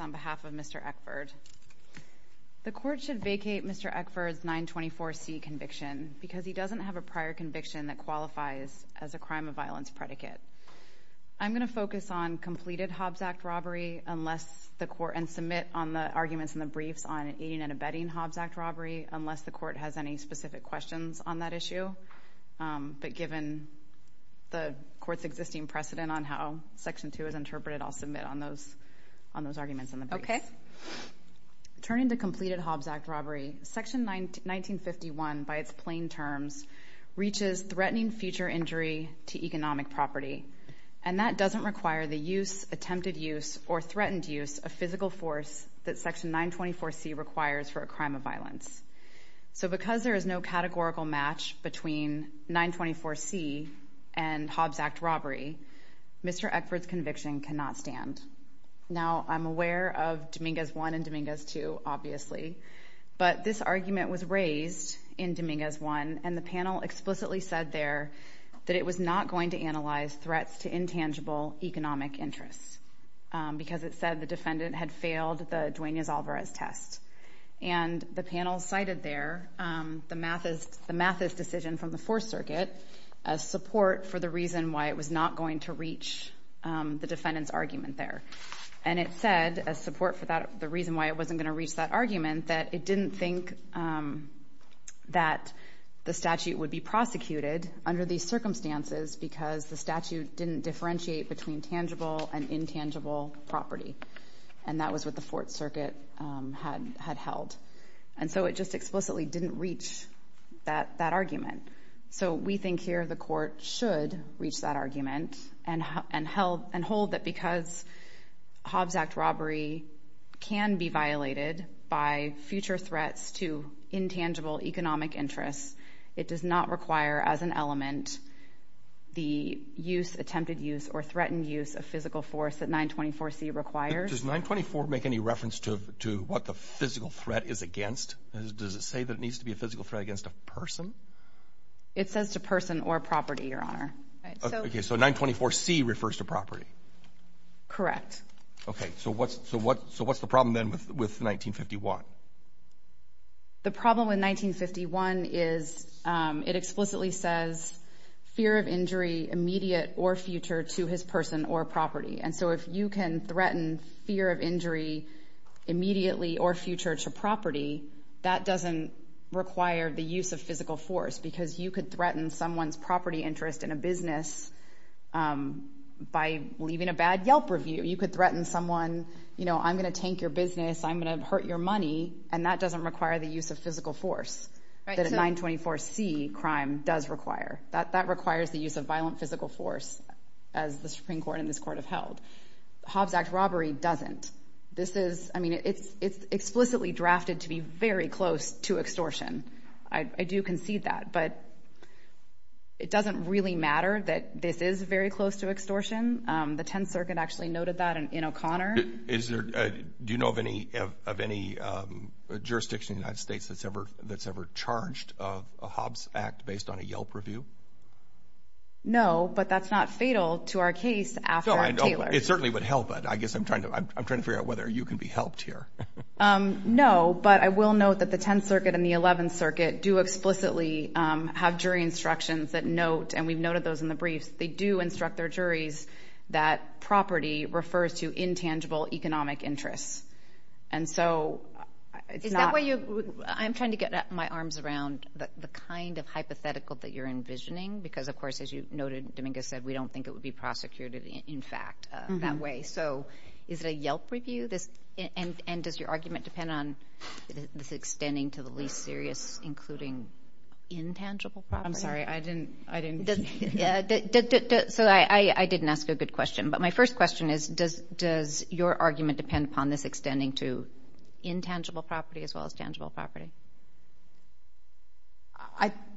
on behalf of Mr. Eckford. The court should vacate Mr. Eckford's 924C conviction because he doesn't have a prior conviction that qualifies as a crime of violence predicate. I'm going to focus on completed Hobbs Act robbery and submit on the arguments in the briefs on aiding and abetting Hobbs Act robbery, unless the court has any specific questions on that issue. But given the court's existing precedent on how Section 2 is interpreted, I'll submit on those arguments in the briefs. Okay. Turning to completed Hobbs Act robbery, Section 1951, by its plain terms, reaches threatening future injury to economic property. And that doesn't require the use, attempted use, or threatened use of physical force that Section 924C requires for a crime of violence. So because there is no categorical match between 924C and Hobbs Act robbery, Mr. Eckford's conviction cannot stand. Now, I'm aware of Dominguez 1 and Dominguez 2, obviously, but this argument was raised in Dominguez 1, and the panel explicitly said there that it was not going to analyze threats to intangible economic interests, because it said the defendant had failed the Duenas-Alvarez test. And the panel cited there the Mathis decision from the Fourth Circuit as support for the reason why it was not going to reach the defendant's argument there. And it said as support for the reason why it wasn't going to reach that argument, that it didn't think that the statute would be prosecuted under these circumstances because the statute didn't differentiate between tangible and intangible property. And that was what the Fourth Circuit had held. And so it just explicitly didn't reach that argument. So we think here the court should reach that argument and hold that because Hobbs Act robbery can be violated by future threats to intangible economic interests, it does not require as an element the use, attempted use, or threatened use of physical force that 924C requires. Does 924 make any reference to what the physical threat is against? Does it say that it needs to be a physical threat against a person? It says to person or property, Your Honor. Okay, so 924C refers to property? Correct. Okay, so what's the problem then with 1951? The problem in 1951 is it explicitly says fear of injury immediate or future to his person or property. And so if you can threaten fear of injury immediately or future to property, that doesn't require the use of physical force because you could threaten someone's property interest in a business by leaving a bad Yelp review. You could threaten someone, you know, I'm going to tank your business, I'm going to hurt your money, and that doesn't require the use of physical force that a 924C crime does require. That requires the use of violent physical force as the Supreme Court and this Court have held. Hobbs Act robbery doesn't. This is, I mean, it's explicitly drafted to be very close to extortion. I do concede that. But it doesn't really matter that this is very close to extortion. The 10th Circuit actually noted that in O'Connor. Is there, do you know of any jurisdiction in the United States that's ever charged of a Hobbs Act based on a Yelp review? No, but that's not fatal to our case after Taylor. It certainly would help, but I guess I'm trying to figure out whether you can be helped here. No, but I will note that the 10th Circuit and the 11th Circuit do explicitly have jury instructions that note, and we've noted those in the briefs, they do instruct their juries that property refers to intangible economic interests. And so, it's not... Is that why you, I'm trying to get my arms around the kind of hypothetical that you're envisioning because, of course, as you noted, Dominguez said, we don't think it would be Does your argument depend on this extending to the least serious, including intangible property? I'm sorry, I didn't... So I didn't ask a good question, but my first question is, does your argument depend upon this extending to intangible property as well as tangible property?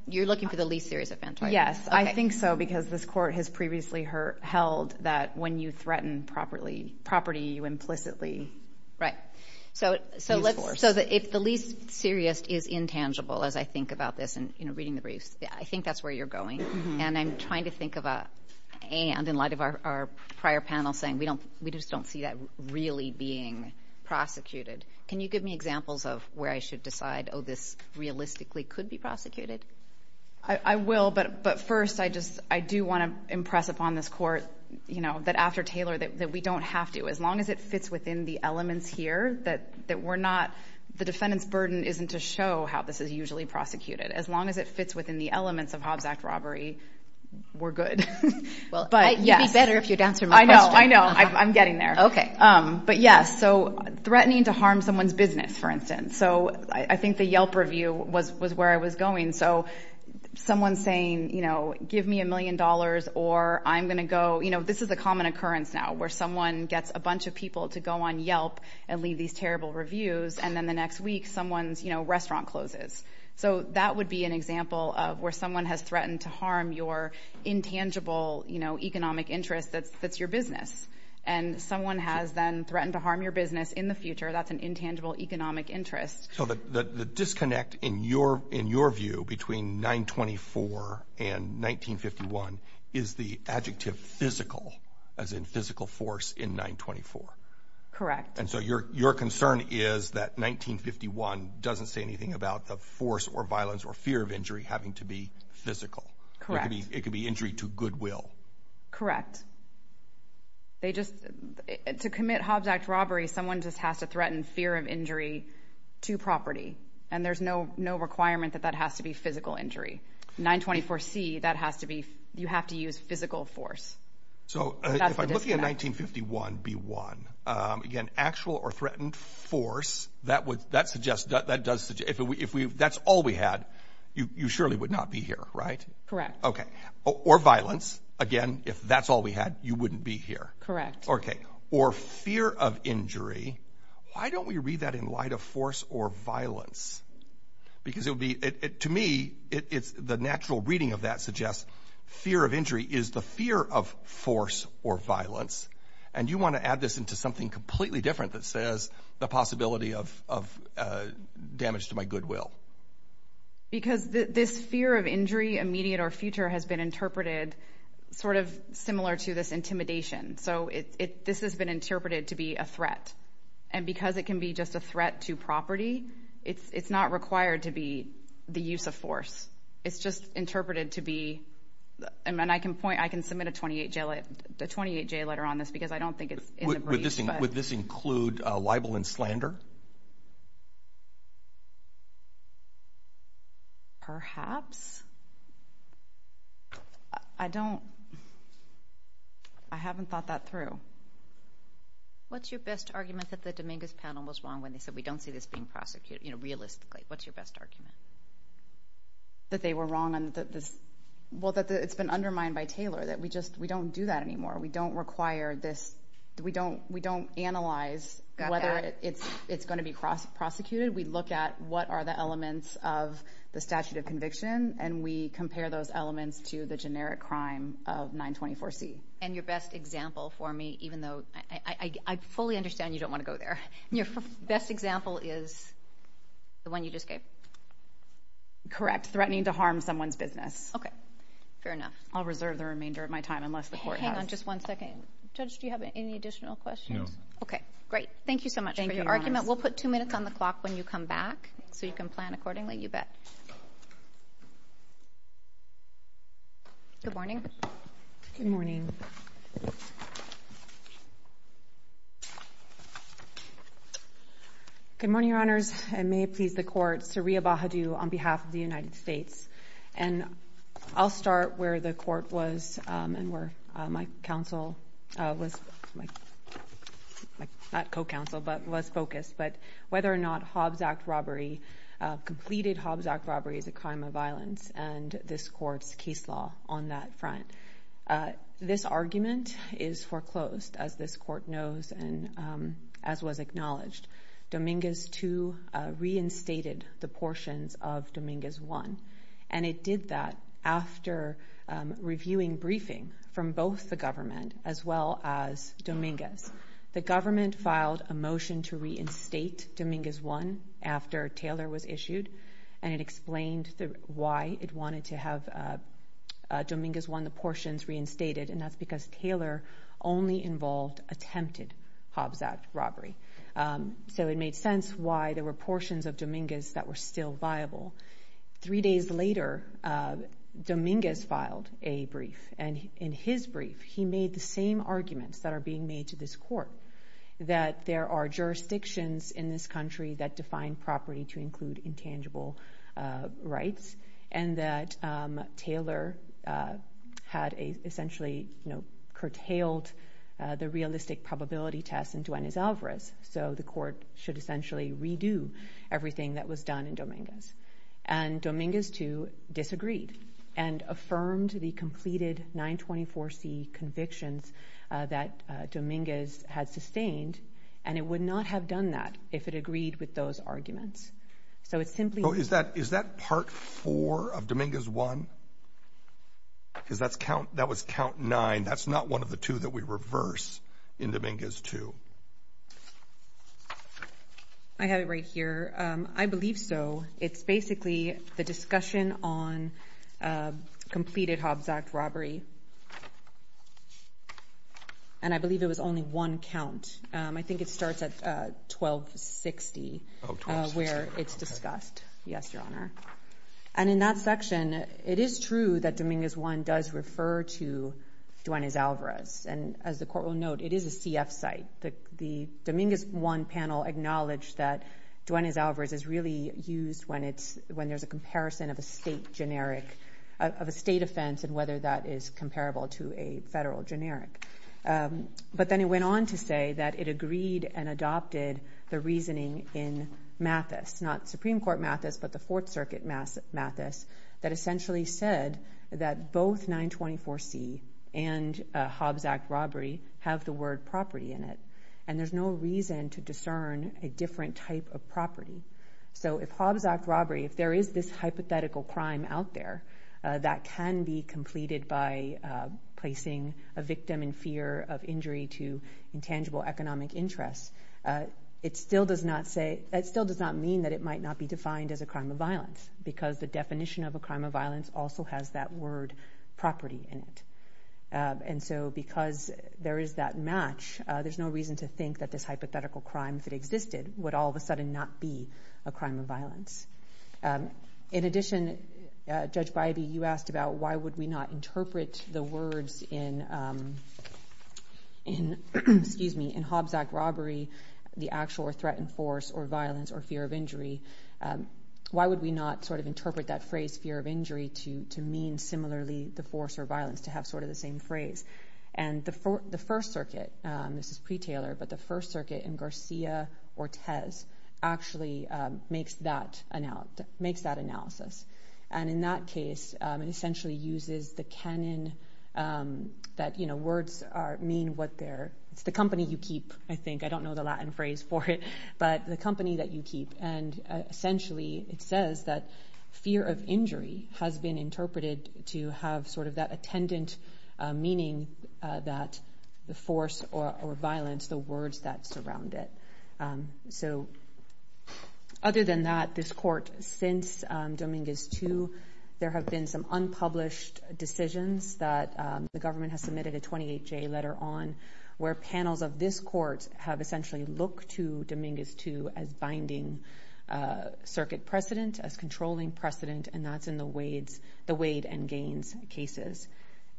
You're looking for the least serious offense, right? Yes, I think so because this court has previously held that when you threaten property, you implicitly... Right. Use force. So if the least serious is intangible, as I think about this in reading the briefs, I think that's where you're going. And I'm trying to think of a and in light of our prior panel saying we just don't see that really being prosecuted. Can you give me examples of where I should decide, oh, this realistically could be prosecuted? I will, but first, I just, I do want to impress upon this court, you know, that after Taylor, that we don't have to. As long as it fits within the elements here, that we're not... The defendant's burden isn't to show how this is usually prosecuted. As long as it fits within the elements of Hobbs Act robbery, we're good. Well, you'd be better if you'd answer my question. I know, I know. I'm getting there. Okay. But yes, so threatening to harm someone's business, for instance. So I think the Yelp review was where I was going. So someone saying, you know, give me a million dollars or I'm an occurrence now where someone gets a bunch of people to go on Yelp and leave these terrible reviews. And then the next week someone's, you know, restaurant closes. So that would be an example of where someone has threatened to harm your intangible, you know, economic interest that's your business. And someone has then threatened to harm your business in the future. That's an intangible economic interest. So the disconnect in your view between 924 and 1951 is the adjective physical, as in physical force in 924. Correct. And so your concern is that 1951 doesn't say anything about the force or violence or fear of injury having to be physical. Correct. It could be injury to goodwill. Correct. They just... To commit Hobbs Act robbery, someone just has to threaten fear of injury to property. And there's no requirement that that has to be physical injury. 924C, that has to be, you have to use physical force. So if I'm looking at 1951B1, again, actual or threatened force, that would, that suggests, that does, if we, if we, if that's all we had, you surely would not be here, right? Correct. Okay. Or violence. Again, if that's all we had, you wouldn't be here. Correct. Okay. Or fear of injury. Why don't we read that in light of force or violence? Because it would be, to me, it's the natural reading of that suggests fear of injury is the fear of force or violence. And you want to add this into something completely different that says the possibility of damage to my goodwill. Because this fear of injury, immediate or future, has been interpreted sort of similar to this intimidation. So this has been interpreted to be a threat. And because it can be just a threat to property, it's not required to be the use of force. It's just interpreted to be, and I can point, I can submit a 28-J letter on this because I don't think it's in the briefs. Would this include libel and slander? Perhaps. I don't, I haven't thought that through. What's your best argument that the Dominguez panel was wrong when they said we don't see this being prosecuted, you know, realistically? What's your best argument? That they were wrong on this, well, that it's been undermined by Taylor, that we just, we don't do that anymore. We don't require this, we don't, we don't analyze whether it's going to be prosecuted. We look at what are the elements of the statute of conviction and we compare those elements to the generic crime of 924C. And your best example for me, even though, I fully understand you don't want to go there. Your best example is the one you just gave. Correct. Threatening to harm someone's business. Okay. Fair enough. I'll reserve the remainder of my time unless the court has... Hang on just one second. Judge, do you have any additional questions? No. Okay, great. Thank you so much for your argument. We'll put two minutes on the clock when you come back so you can plan accordingly, you bet. Good morning. Good morning. Good morning, Your Honors. I may please the court. Saria Bahadu on behalf of the United States. And I'll start where the court was and where my counsel was, not co-counsel, but was focused, but whether or not Hobbs Act robbery, completed Hobbs Act robbery is a crime of violence and this court's case law on that front. This argument is foreclosed as this court knows and as was acknowledged. Dominguez 2 reinstated the portions of Dominguez 1 and it did that after reviewing briefing from both the government as well as Dominguez. The government filed a motion to reinstate Dominguez 1 after Taylor was issued and it explained why it wanted to have Dominguez 1, the portions, reinstated and that's because Taylor only involved attempted Hobbs Act robbery. So it made sense why there were portions of Dominguez. Three days later, Dominguez filed a brief and in his brief, he made the same arguments that are being made to this court, that there are jurisdictions in this country that define property to include intangible rights and that Taylor had essentially curtailed the realistic probability test in Duenas Alvarez. So the court should essentially redo everything that was done in Dominguez. And Dominguez 2 disagreed and affirmed the completed 924C convictions that Dominguez had sustained and it would not have done that if it agreed with those arguments. So it's simply... So is that part 4 of Dominguez 1? Because that was count 9. That's not one of the two that we reverse in Dominguez 2. I have it right here. I believe so. It's basically the discussion on completed Hobbs Act robbery. And I believe it was only one count. I think it starts at 1260 where it's discussed. Yes, Your Honor. And in that section, it is true that Dominguez 1 does refer to Duenas Alvarez and as the court will note, it is a CF site. The Dominguez 1 panel acknowledged that Duenas Alvarez is really used when there's a comparison of a state offense and whether that is comparable to a federal generic. But then it went on to say that it agreed and adopted the reasoning in Mathis, not Supreme Court Mathis, but the Fourth Circuit Mathis, that essentially said both 924C and Hobbs Act robbery have the word property in it. And there's no reason to discern a different type of property. So if Hobbs Act robbery, if there is this hypothetical crime out there that can be completed by placing a victim in fear of injury to intangible economic interests, it still does not mean that it might not be defined as a crime of violence because the definition of a crime of violence also has that word property in it. And so because there is that match, there's no reason to think that this hypothetical crime, if it existed, would all of a sudden not be a crime of violence. In addition, Judge Bybee, you asked about why would we not interpret the words in Hobbs Act robbery, the actual threatened force or violence or fear of injury, why would we not sort of interpret that phrase fear of injury to mean similarly the force or violence to have sort of the same phrase. And the First Circuit, this is pre-Taylor, but the First Circuit in Garcia-Ortiz actually makes that analysis. And in that case, it essentially uses the canon that words mean what they're, it's the company you keep, I think, I don't know the Latin phrase for it, but the company that you keep. And essentially, it says that fear of injury has been interpreted to have sort of that attendant meaning that the force or violence, the words that surround it. So other than that, this court, since Dominguez 2, there have been some unpublished decisions that the government has submitted a 28-J letter on where panels of this court have essentially looked to Dominguez 2 as binding circuit precedent, as controlling precedent, and that's in the Wade and Gaines cases.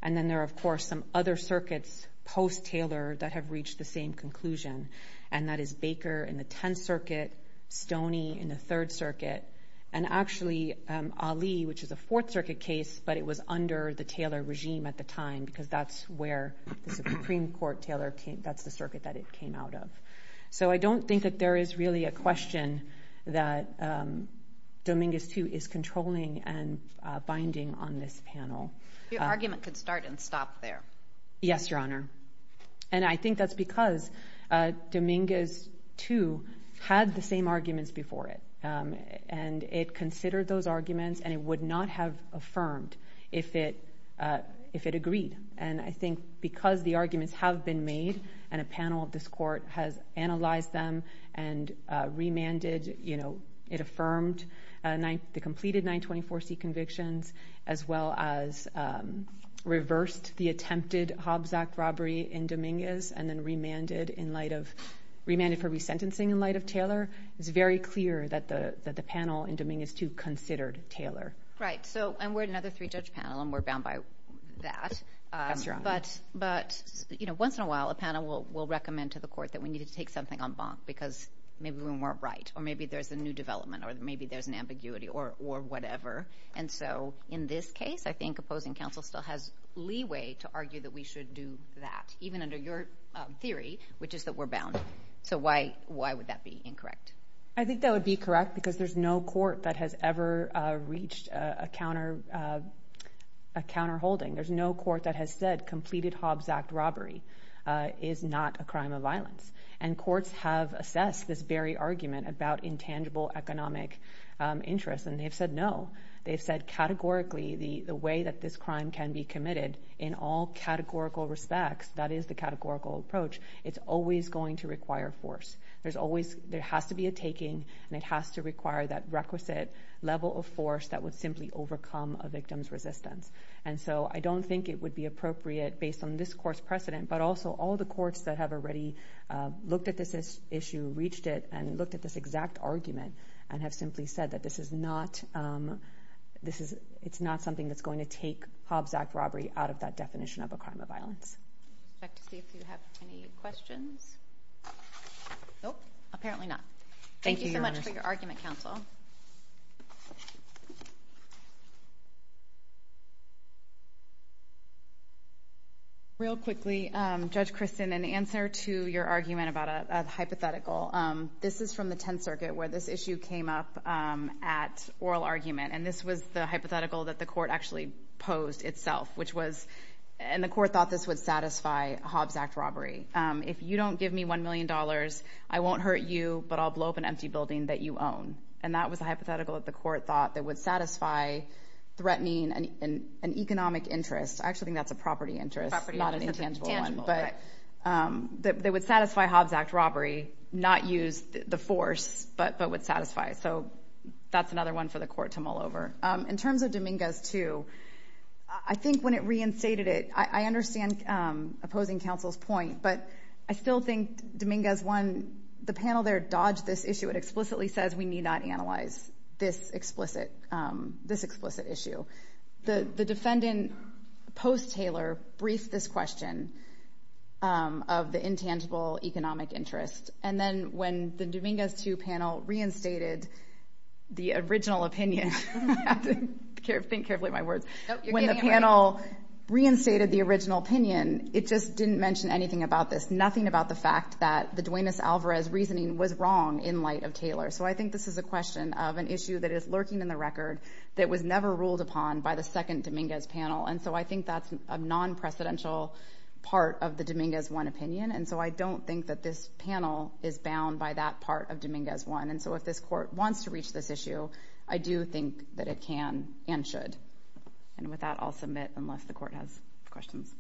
And then there are, of course, some other circuits post-Taylor that have reached the same conclusion, and that is Baker in the 10th Circuit, Stoney in the 3rd Circuit, and actually Ali, which is a 4th Circuit case, but it was under the Taylor regime at the time, because that's where the Supreme Court, Taylor, that's the circuit that it came out of. So I don't think that there is really a question that Dominguez 2 is controlling and binding on this panel. Your argument could start and stop there. Yes, Your Honor. And I think that's because Dominguez 2 had the same arguments before it, and it considered those arguments, and it would not have affirmed if it agreed. And I think because the arguments have been made, and a panel of this court has analyzed them and remanded, you know, it affirmed the completed 924C convictions, as well as reversed the attempted Hobbs Act robbery in Dominguez, and then remanded in light of, remanded for resentencing in light of Taylor, it's very clear that the panel in Dominguez 2 considered Taylor. Right. So, and we're another three-judge panel, and we're bound by that. But, you know, once in a while, a panel will recommend to the court that we need to take something en banc, because maybe we weren't right, or maybe there's a new development, or maybe there's an ambiguity, or whatever. And so in this case, I think opposing counsel still has leeway to argue that we should do that, even under your theory, which is that we're bound. So why would that be incorrect? I think that would be correct, because there's no court that has ever reached a counter, a counterholding. There's no court that has said completed Hobbs Act robbery is not a crime of violence. And courts have assessed this very argument about intangible economic interests, and they've said no. They've said categorically, the way that this crime can be committed, in all categorical respects, that is the categorical approach, it's always going to require force. There's always, there has to be a taking, and it has to require that requisite level of force that would simply overcome a victim's resistance. And so I don't think it would be appropriate, based on this court's precedent, but also all the courts that have already looked at this issue, reached it, and looked at this exact argument, and have simply said that this is not, this is, it's not something that's going to take Hobbs Act robbery out of that definition of a crime of violence. I'd like to see if you have any questions. Nope, apparently not. Thank you so much for your argument, counsel. Real quickly, Judge Kristen, in answer to your argument about a hypothetical, this is from the Tenth Circuit, where this issue came up at oral argument, and this was the hypothetical that the If you don't give me $1 million, I won't hurt you, but I'll blow up an empty building that you own. And that was a hypothetical that the court thought that would satisfy threatening an economic interest. I actually think that's a property interest, not an intangible one. But that would satisfy Hobbs Act robbery, not use the force, but would satisfy. So that's another one for the court to mull over. In terms of Dominguez 2, I think when it reinstated it, I understand opposing counsel's point, but I still think Dominguez 1, the panel there dodged this issue. It explicitly says we need not analyze this explicit, this explicit issue. The defendant, post-Taylor, briefed this question of the intangible economic interest. And then when the Dominguez 2 panel reinstated the original opinion, I have to think carefully of my words. When the panel reinstated the original opinion, it just didn't mention anything about this, nothing about the fact that the Duenas-Alvarez reasoning was wrong in light of Taylor. So I think this is a question of an issue that is lurking in the record that was never ruled upon by the second Dominguez panel. And so I think that's a non-precedential part of the Dominguez 1 opinion. And so I don't think that this panel is bound by that part of Dominguez 1. And so if this court wants to reach this issue, I do think that it can and should. And with that, I'll submit unless the court has questions.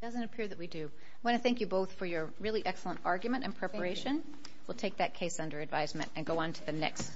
It doesn't appear that we do. I want to thank you both for your really excellent argument and preparation. We'll take that case under advisement and go on to the next.